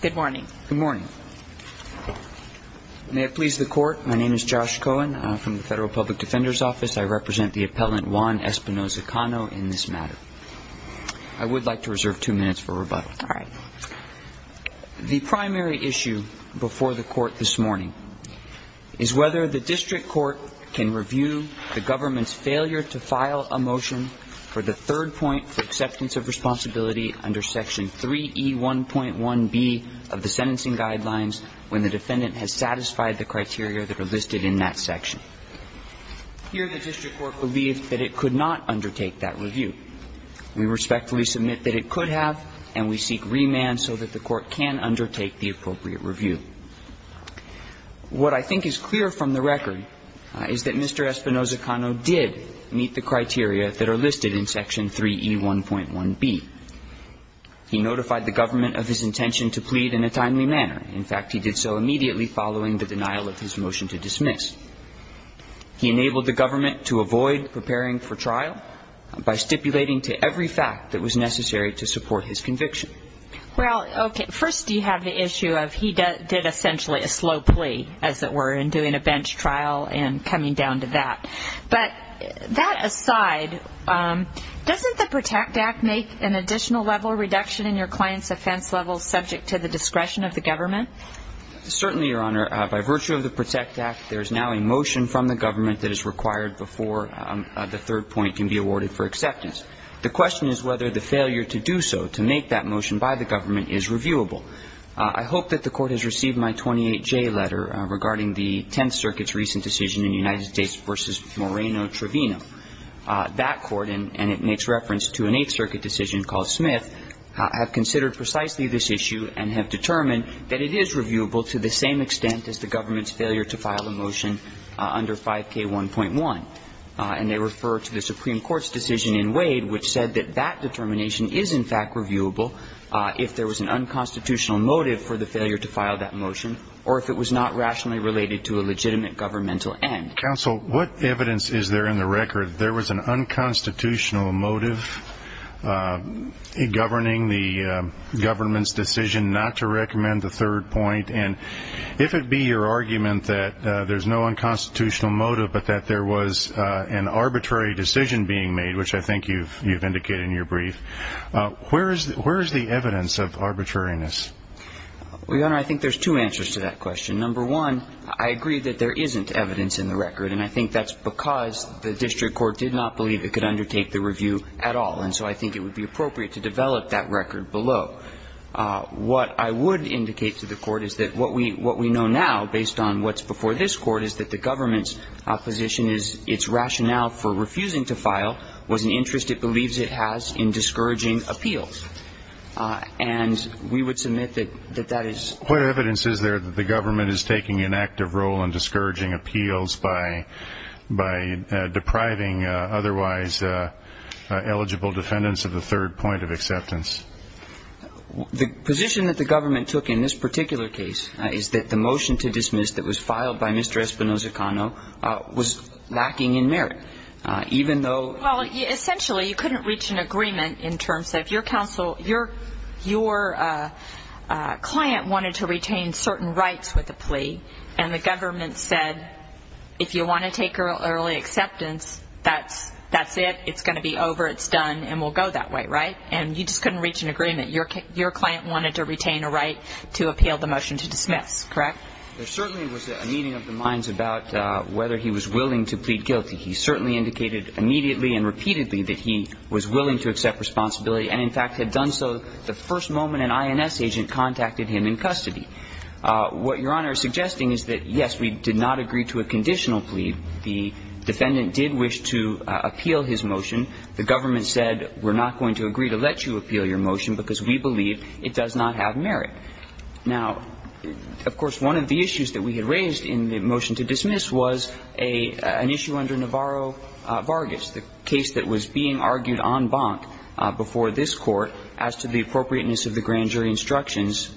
Good morning. May it please the court, my name is Josh Cohen from the Federal Public Defender's Office. I represent the appellant Juan Espinoza-Cano in this matter. I would like to reserve two minutes for rebuttal. The primary issue before the court this morning is whether the district court can review the government's failure to file a motion for the third point for acceptance of responsibility under Section 3E1.1b of the sentencing guidelines when the defendant has satisfied the criteria that are listed in that section. Here, the district court believed that it could not undertake that review. We respectfully submit that it could have, and we seek remand so that the court can undertake the appropriate review. What I think is clear from the record is that Mr. Espinoza-Cano did meet the criteria that are listed in Section 3E1.1b. He notified the government of his intention to plead in a timely manner. In fact, he did so immediately following the denial of his motion to dismiss. He enabled the government to avoid preparing for trial by stipulating to every fact that was necessary to support his conviction. Well, okay, first you have the issue of he did essentially a slow plea, as it were, in Doesn't the PROTECT Act make an additional level of reduction in your client's offense level subject to the discretion of the government? Certainly, Your Honor. By virtue of the PROTECT Act, there is now a motion from the government that is required before the third point can be awarded for acceptance. The question is whether the failure to do so, to make that motion by the government, is reviewable. I hope that the court has received my 28J letter regarding the Tenth Circuit's recent decision in United States v. Moreno-Trevino. That court, and it makes reference to an Eighth Circuit decision called Smith, have considered precisely this issue and have determined that it is reviewable to the same extent as the government's failure to file a motion under 5K1.1. And they refer to the Supreme Court's decision in Wade which said that that determination is, in fact, reviewable if there was an unconstitutional motive for the failure to file that motion or if it was not rationally related to a legitimate governmental end. Counsel, what evidence is there in the record that there was an unconstitutional motive in governing the government's decision not to recommend the third point? And if it be your argument that there's no unconstitutional motive but that there was an arbitrary decision being made, which I think you've indicated in your brief, where is the evidence of arbitrariness? Well, Your Honor, I think there's two answers to that question. Number one, I agree that there isn't evidence in the record, and I think that's because the district court did not believe it could undertake the review at all. And so I think it would be appropriate to develop that record below. What I would indicate to the court is that what we know now based on what's before this Court is that the government's position is its rationale for refusing to file was an interest it believes it has in discouraging appeals. And we would submit that that is... What evidence is there that the government is taking an active role in discouraging appeals by depriving otherwise eligible defendants of the third point of acceptance? The position that the government took in this particular case is that the motion to dismiss that was filed by Mr. Espinoza-Cano was lacking in merit, even though... Well, client wanted to retain certain rights with the plea, and the government said if you want to take early acceptance, that's it. It's going to be over. It's done, and we'll go that way, right? And you just couldn't reach an agreement. Your client wanted to retain a right to appeal the motion to dismiss, correct? There certainly was a meeting of the minds about whether he was willing to plead guilty. He certainly indicated immediately and repeatedly that he was willing to accept responsibility and, in fact, had done so the first moment an INS agent contacted him in custody. What Your Honor is suggesting is that, yes, we did not agree to a conditional plea. The defendant did wish to appeal his motion. The government said, we're not going to agree to let you appeal your motion because we believe it does not have merit. Now, of course, one of the issues that we had raised in the motion to dismiss was an issue under Navarro-Vargas, the case that was being argued en banc before this Court as to the appropriateness of the grand jury instructions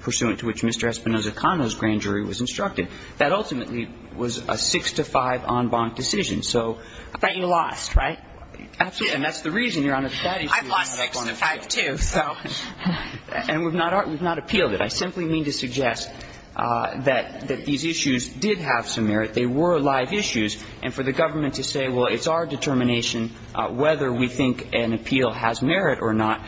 pursuant to which Mr. Espinoza-Cano's grand jury was instructed. That ultimately was a six-to-five en banc decision. So you lost, right? Absolutely. And that's the reason, Your Honor, that issue was not going to appeal. I've lost six-to-five, too, so. And we've not appealed it. I simply mean to suggest that these issues did have some merit. They were live issues. And for the government to say, well, it's our determination whether we think an appeal has merit or not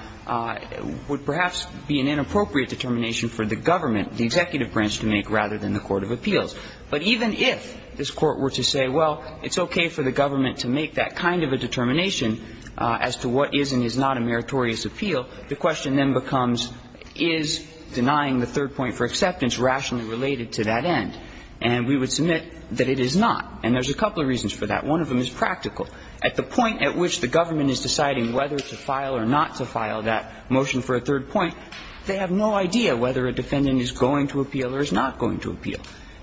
would perhaps be an inappropriate determination for the government, the executive branch, to make rather than the court of appeals. But even if this Court were to say, well, it's okay for the government to make that kind of a determination as to what is and is not a meritorious appeal, the question then becomes, is denying the third point for acceptance rationally related to that end? And we would submit that it is not. And there's a couple of reasons for that. One of them is practical. At the point at which the government is deciding whether to file or not to file that motion for a third point, they have no idea whether a defendant is going to appeal or is not going to appeal.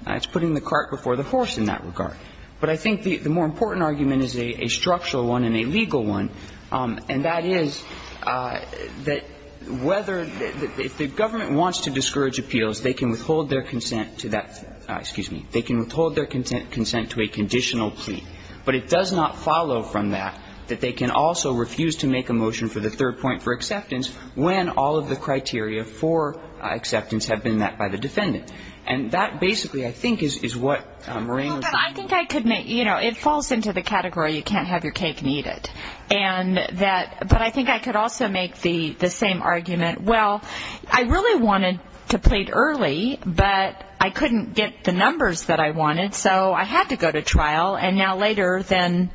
It's putting the cart before the horse in that regard. But I think the more important argument is a structural one and a legal one, and that is that whether the government wants to discourage appeals, they can withhold their consent to that, excuse me, they can withhold their consent to a conditional plea, but it does not follow from that that they can also refuse to make a motion for the third point for acceptance when all of the criteria for acceptance have been met by the defendant. And that basically, I think, is what Marina was saying. Well, but I think I could make, you know, it falls into the category you can't have your cake and eat it. And that, but I think I could also make the same argument, well, I really wanted to plead early, but I couldn't get the numbers that I wanted, so I had to go to trial and now later then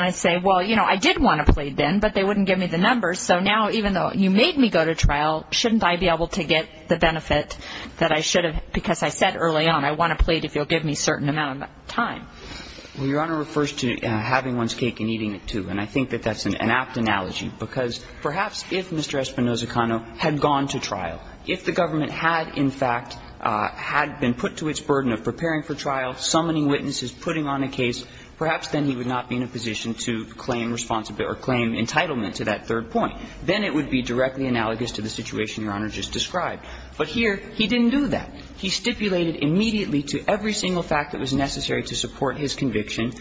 I say, well, you know, I did want to plead then, but they wouldn't give me the numbers, so now even though you made me go to trial, shouldn't I be able to get the benefit that I should have, because I said early on, I want to plead if you'll give me a certain amount of time. Well, Your Honor refers to having one's cake and eating it, too, and I think that that's an apt analogy, because perhaps if Mr. Espinoza-Cano had gone to trial, if the government had, in fact, had been put to its burden of preparing for trial, summoning witnesses, putting on a case, perhaps then he would not be in a position to claim entitlement to that third point. Then it would be directly analogous to the situation Your Honor just described. But here, he didn't do that. He stipulated immediately to every single fact that was necessary to support his conviction.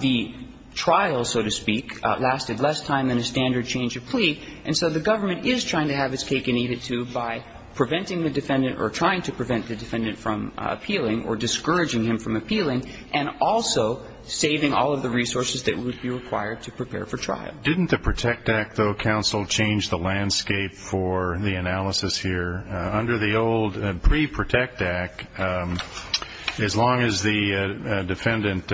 The trial, so to speak, lasted less time than a standard change of plea, and so the government is trying to have its cake and eat it, too, by preventing the defendant or trying to prevent the defendant from appealing or discouraging him from appealing, and also saving all of the resources that would be required to prepare for trial. Didn't the PROTECT Act, though, counsel, change the landscape for the analysis here? Under the old pre-PROTECT Act, as long as the defendant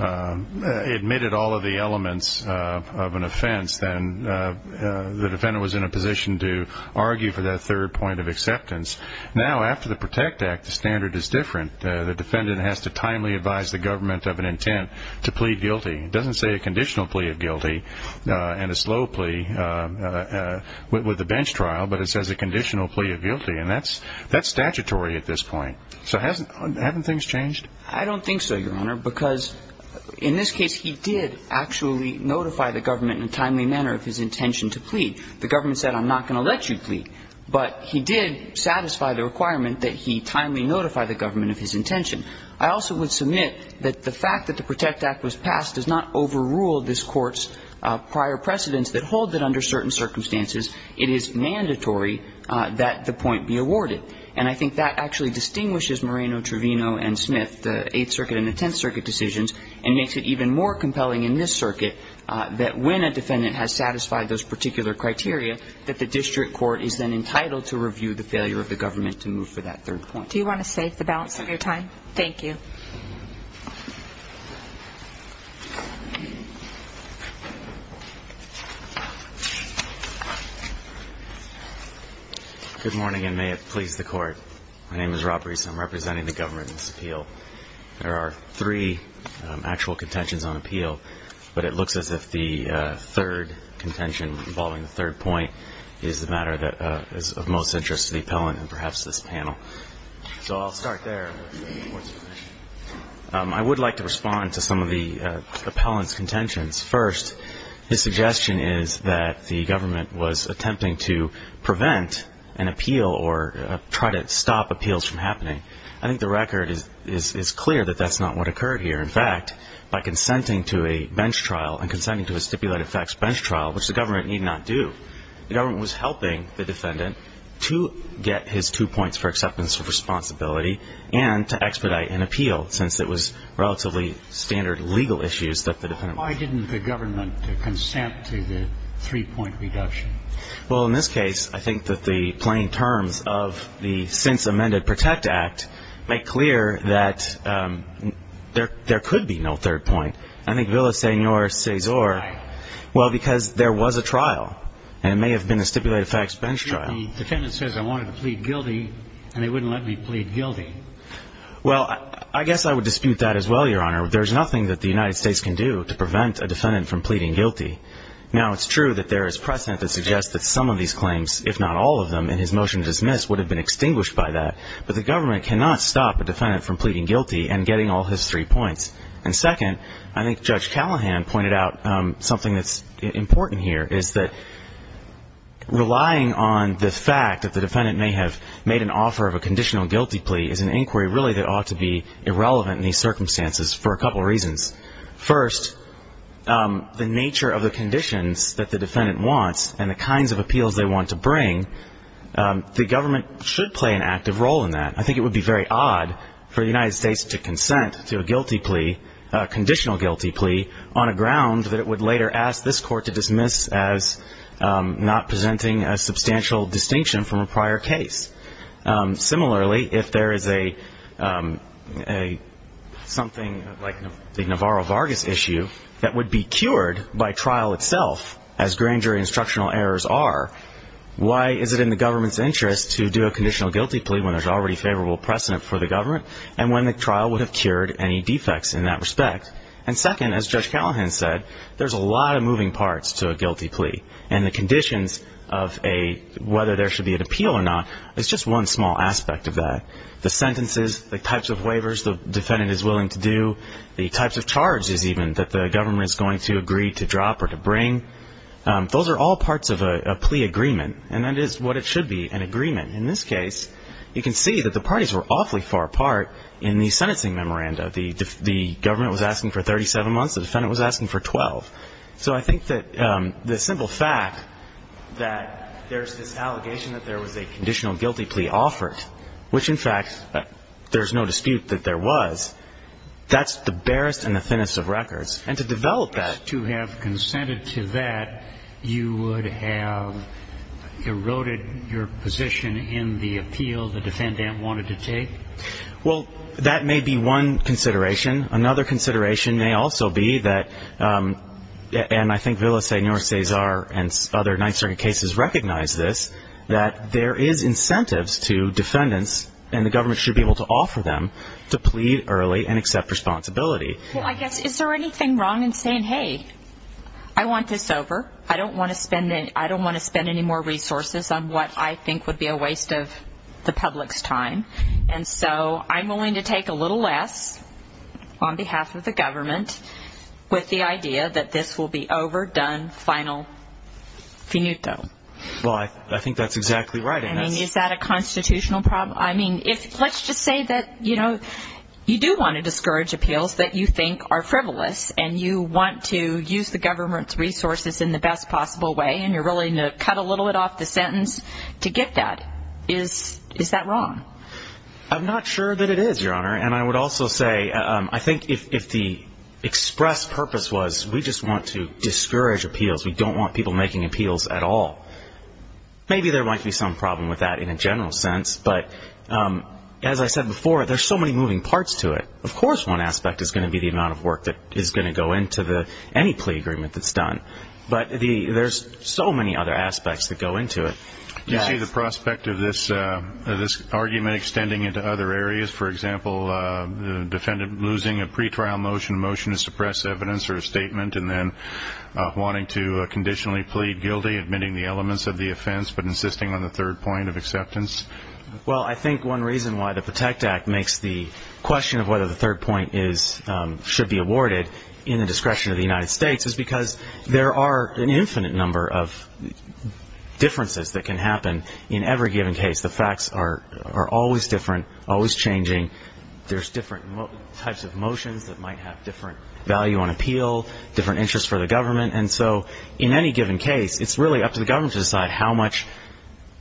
admitted all of the elements of an offense, then the defendant was in a position to argue for that third point of acceptance. Now, after the PROTECT Act, the standard is different. The defendant has to timely advise the government of an intent to plea guilty. It doesn't say a conditional plea of guilty and a slow plea with the bench trial, but it says a conditional plea of guilty, and that's statutory at this point. So haven't things changed? I don't think so, Your Honor, because in this case, he did actually notify the government in a timely manner of his intention to plead. The government said, I'm not going to let you plead, but he did satisfy the requirement that he timely notify the government of his intention. I also would submit that the fact that the PROTECT Act was passed does not overrule this Court's prior precedents that hold that under certain circumstances it is mandatory that the point be awarded, and I think that actually distinguishes Moreno, Trevino and Smith, the Eighth Circuit and the Tenth Circuit decisions, and makes it even more compelling in this circuit that when a defendant has satisfied those particular criteria, that the district court is then entitled to review the failure of the government to move for that third point. Do you want to save the balance of your time? Thank you. Good morning, and may it please the Court. My name is Rob Rees, and I'm representing the government in this appeal. There are three actual contentions on appeal, but it looks as if the third contention involving the third point is the matter that is of most interest to the appellant and perhaps this panel. So I'll start there. I would like to respond to some of the appellant's contentions. First, his suggestion is that the government was attempting to prevent an appeal or try to stop appeals from happening. I think the record is clear that that's not what occurred here. In fact, by consenting to a bench trial and consenting to a stipulated facts bench trial, which the government need not do, the government was helping the defendant to get his two points for acceptance of responsibility and to expedite an appeal, since it was relatively standard legal issues that the defendant was concerned about. Why didn't the government consent to the three-point reduction? Well, in this case, I think that the plain terms of the since-amended PROTECT Act make clear that there could be no third point. I think Villa Senor Cesar, well, because there was a trial, and it may have been a stipulated facts bench trial. The defendant says, I wanted to plead guilty, and they wouldn't let me plead guilty. Well, I guess I would dispute that as well, Your Honor. There's nothing that the United States can do to prevent a defendant from pleading guilty. Now, it's true that there is precedent that suggests that some of these claims, if not all of them, in his motion to dismiss would have been extinguished by that. But the government cannot stop a defendant from pleading guilty and getting all his three points. And second, I think Judge Callahan pointed out something that's important here, is that relying on the fact that the defendant may have made an offer of a conditional guilty plea is an inquiry really that ought to be irrelevant in these circumstances for a couple reasons. First, the nature of the conditions that the defendant wants and the kinds of appeals they want to bring, the government should play an active role in that. I think it would be very odd for the United States to consent to a guilty plea, a conditional guilty plea, on a ground that it would later ask this Court to dismiss as not presenting a substantial distinction from a prior case. Similarly, if there is something like the Navarro-Vargas issue that would be cured by trial itself, as grand jury instructional errors are, why is it in the government's interest to do a conditional guilty plea when there's already favorable precedent for the government and when the trial would have cured any defects in that respect? And second, as Judge Callahan said, there's a lot of moving parts to a guilty plea. And the conditions of whether there should be an appeal or not is just one small aspect of that. The sentences, the types of waivers the defendant is willing to do, the types of charges even that the government is going to agree to drop or to bring, those are all parts of a plea agreement and that is what it should be, an agreement. In this case, you can see that the parties were awfully far apart in the sentencing memoranda. The government was asking for 37 months, the defendant was asking for 12. So I think that the simple fact that there's this allegation that there was a conditional guilty plea offered, which in fact there's no dispute that there was, that's the barest and the thinnest of records. And to develop that. To have consented to that, you would have eroded your position in the appeal the defendant wanted to take? Well, that may be one consideration. Another consideration may also be that, and I think Villaseñor, Cesar and other Ninth Circuit cases recognize this, that there is incentives to defendants and the government should be able to offer them to plead early and accept responsibility. I guess, is there anything wrong in saying, hey, I want this over, I don't want to spend any more resources on what I think would be a waste of the public's time. And so, I'm willing to take a little less on behalf of the government with the idea that this will be over, done, final, finito. Well, I think that's exactly right. I mean, is that a constitutional problem? I mean, if, let's just say that, you know, you do want to discourage appeals that you think are frivolous and you want to use the government's resources in the best possible way and you're willing to cut a little bit off the sentence to get that. Is that wrong? I'm not sure that it is, Your Honor. And I would also say, I think if the express purpose was we just want to discourage appeals, we don't want people making appeals at all, maybe there might be some problem with that in a general sense, but as I said before, there's so many moving parts to it. Of course, one aspect is going to be the amount of work that is going to go into any plea agreement that's done, but there's so many other aspects that go into it. Do you see the prospect of this argument extending into other areas? For example, losing a pretrial motion, a motion to suppress evidence or a statement, and then wanting to conditionally plead guilty, admitting the elements of the offense, but insisting on the third point of acceptance? Well, I think one reason why the PROTECT Act makes the question of whether the third point should be awarded in the discretion of the United States is because there are an infinite number of differences that can happen in every given case. The facts are always different, always changing. There's different types of motions that might have different value on appeal, different interests for the government. And so, in any given case, it's really up to the government to decide how much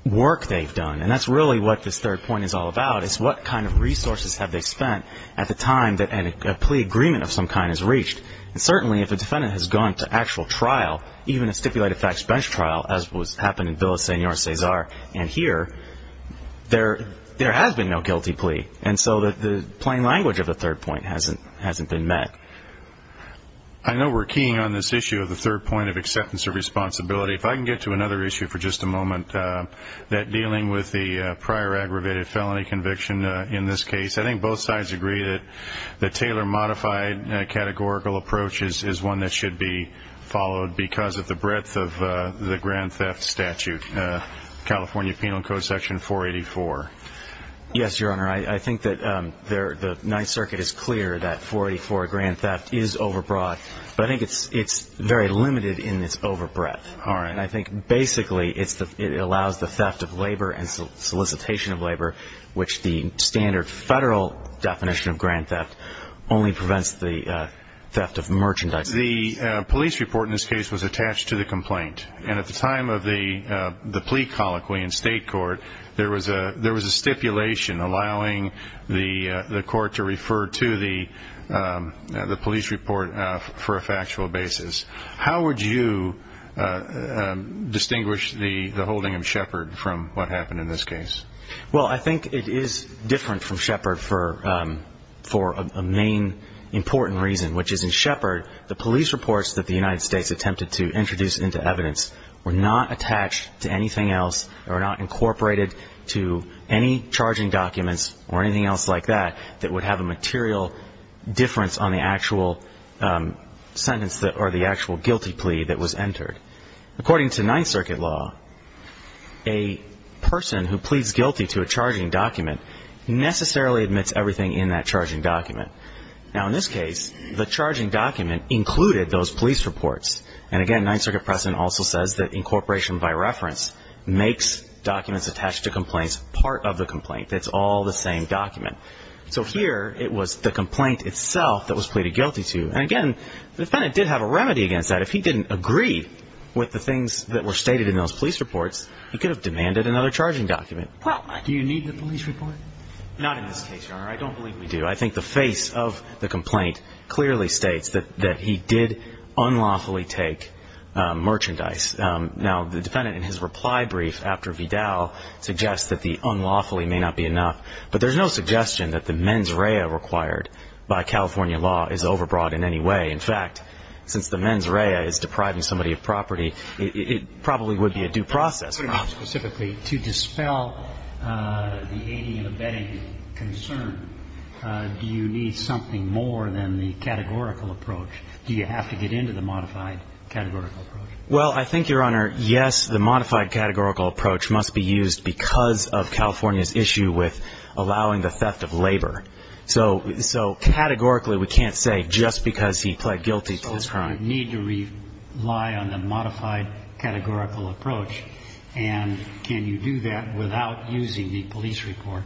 work they've done. And that's really what this third point is all about, is what kind of resources have they spent at the time that a plea agreement of some kind is reached. And certainly, if a defendant has gone to actual trial, even a stipulated facts bench trial, as was happened in Villa Senor Cesar, and here, there has been no guilty plea. And so, the plain language of the third point hasn't been met. I know we're keying on this issue of the third point of acceptance of responsibility. If I can get to another issue for just a moment, that dealing with the prior aggravated felony conviction in this case, I think both sides agree that Taylor modified categorical approaches is one that should be followed because of the breadth of the grand theft statute, California Penal Code Section 484. Yes, Your Honor. I think that the Ninth Circuit is clear that 484 grand theft is overbroad, but I think it's very limited in its overbreadth. I think basically, it allows the theft of labor and solicitation of labor, which the The police report in this case was attached to the complaint, and at the time of the plea colloquy in state court, there was a stipulation allowing the court to refer to the police report for a factual basis. How would you distinguish the holding of Shepard from what happened in this case? Well, I think it is different from Shepard for a main important reason, which is in Shepard, the police reports that the United States attempted to introduce into evidence were not attached to anything else or not incorporated to any charging documents or anything else like that that would have a material difference on the actual sentence or the actual guilty plea that was entered. According to Ninth Circuit law, a person who pleads guilty to a charging document necessarily admits everything in that charging document. Now in this case, the charging document included those police reports, and again, Ninth Circuit precedent also says that incorporation by reference makes documents attached to complaints part of the complaint. It's all the same document. So here, it was the complaint itself that was pleaded guilty to, and again, the defendant did have a remedy against that. If he didn't agree with the things that were stated in those police reports, he could have demanded another charging document. Well, do you need the police report? Not in this case, Your Honor. I don't believe we do. I think the face of the complaint clearly states that he did unlawfully take merchandise. Now the defendant in his reply brief after Vidal suggests that the unlawfully may not be enough, but there's no suggestion that the mens rea required by California law is overbrought in any way. In fact, since the mens rea is depriving somebody of property, it probably would be a due process. Specifically, to dispel the aiding and abetting concern, do you need something more than the categorical approach? Do you have to get into the modified categorical approach? Well, I think, Your Honor, yes, the modified categorical approach must be used because of California's issue with allowing the theft of labor. So categorically, we can't say just because he pled guilty to this crime. So you need to rely on the modified categorical approach, and can you do that without using the police report?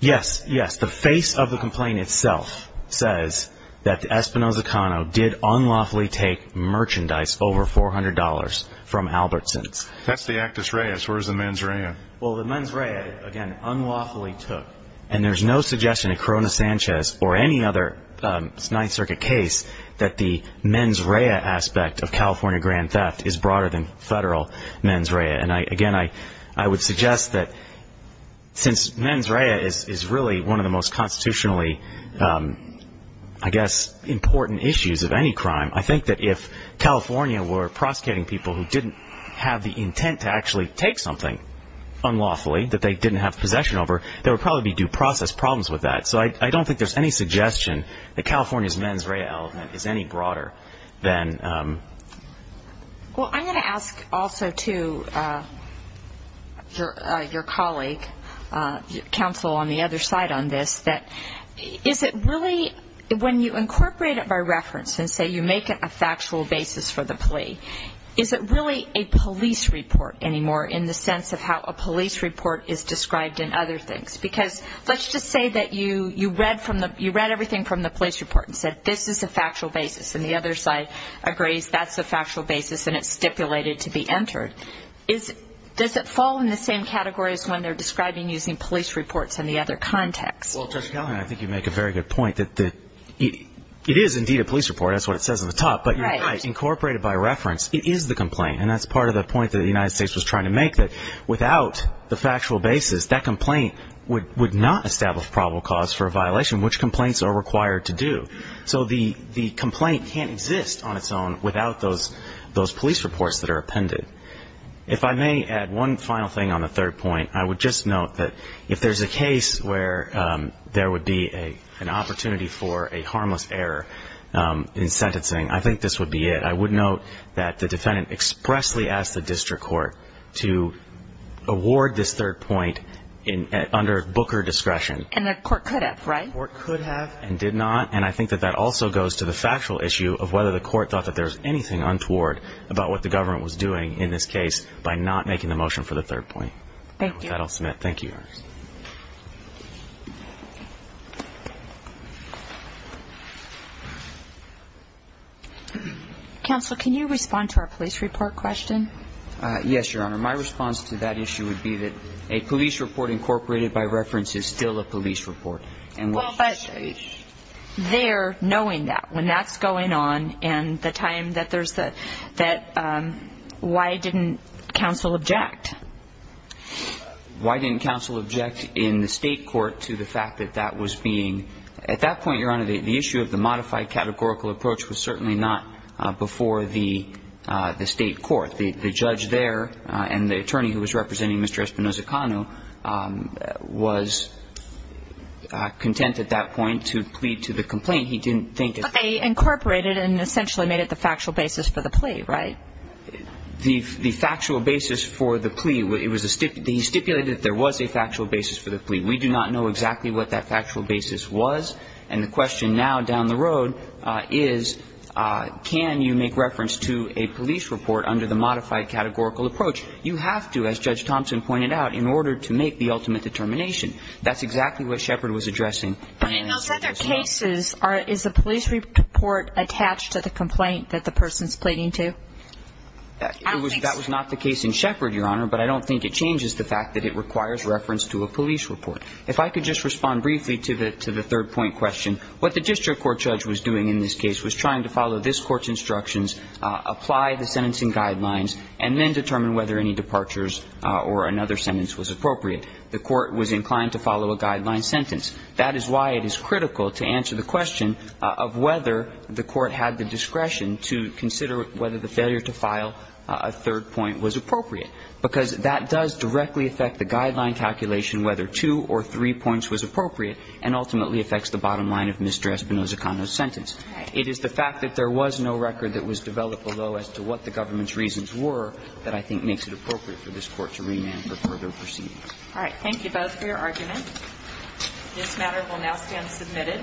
Yes. Yes. The face of the complaint itself says that Espinosa Cano did unlawfully take merchandise over $400 from Albertsons. That's the actus reus. Where's the mens rea? Well, the mens rea, again, unlawfully took. And there's no suggestion that Corona Sanchez or any other Ninth Circuit case that the mens rea aspect of California grand theft is broader than federal mens rea. And again, I would suggest that since mens rea is really one of the most constitutionally, I guess, important issues of any crime, I think that if California were prosecuting people who didn't have the intent to actually take something unlawfully that they didn't have possession over, there would probably be due process problems with that. So I don't think there's any suggestion that California's mens rea element is any broader than... Well, I'm going to ask also to your colleague, counsel on the other side on this, that is it really when you incorporate it by reference and say you make it a factual basis for the case, is it really a police report anymore in the sense of how a police report is described in other things? Because let's just say that you read everything from the police report and said this is a factual basis. And the other side agrees that's a factual basis and it's stipulated to be entered. Does it fall in the same category as when they're describing using police reports in the other context? Well, Judge Gallagher, I think you make a very good point that it is indeed a police report. That's what it says on the top. Right. But when you incorporate it by reference, it is the complaint. And that's part of the point that the United States was trying to make, that without the factual basis, that complaint would not establish probable cause for a violation, which complaints are required to do. So the complaint can't exist on its own without those police reports that are appended. If I may add one final thing on the third point, I would just note that if there's a case where there would be an opportunity for a harmless error in sentencing, I think this would be it. I would note that the defendant expressly asked the district court to award this third point under Booker discretion. And the court could have, right? The court could have and did not. And I think that that also goes to the factual issue of whether the court thought that there was anything untoward about what the government was doing in this case by not making the motion for the third point. Thank you. With that, I'll submit. Thank you, Your Honor. Counsel, can you respond to our police report question? Yes, Your Honor. My response to that issue would be that a police report incorporated by reference is still a police report. Well, but they're knowing that. When that's going on and the time that there's the, that, why didn't counsel object? Why didn't counsel object in the state court to the fact that that was being, at that point, Your Honor, the issue of the modified categorical approach was certainly not before the state court. The judge there and the attorney who was representing Mr. Espinoza-Cano was content at that point to plead to the complaint. He didn't think that. But they incorporated and essentially made it the factual basis for the plea, right? The factual basis for the plea, it was a, he stipulated that there was a factual basis for the plea. We do not know exactly what that factual basis was. And the question now down the road is can you make reference to a police report under the modified categorical approach? You have to, as Judge Thompson pointed out, in order to make the ultimate determination. That's exactly what Shepard was addressing. But in those other cases, is the police report attached to the complaint that the person's pleading to? I don't think so. That was not the case in Shepard, Your Honor. But I don't think it changes the fact that it requires reference to a police report. If I could just respond briefly to the third point question. What the district court judge was doing in this case was trying to follow this court's instructions, apply the sentencing guidelines, and then determine whether any departures or another sentence was appropriate. The court was inclined to follow a guideline sentence. That is why it is critical to answer the question of whether the court had the discretion to consider whether the failure to file a third point was appropriate. Because that does directly affect the guideline calculation whether two or three points was appropriate, and ultimately affects the bottom line of Mr. Espinoza-Cano's sentence. It is the fact that there was no record that was developed below as to what the government's reasons were that I think makes it appropriate for this Court to remand for further proceeding. All right. Thank you both for your argument. This matter will now stand submitted.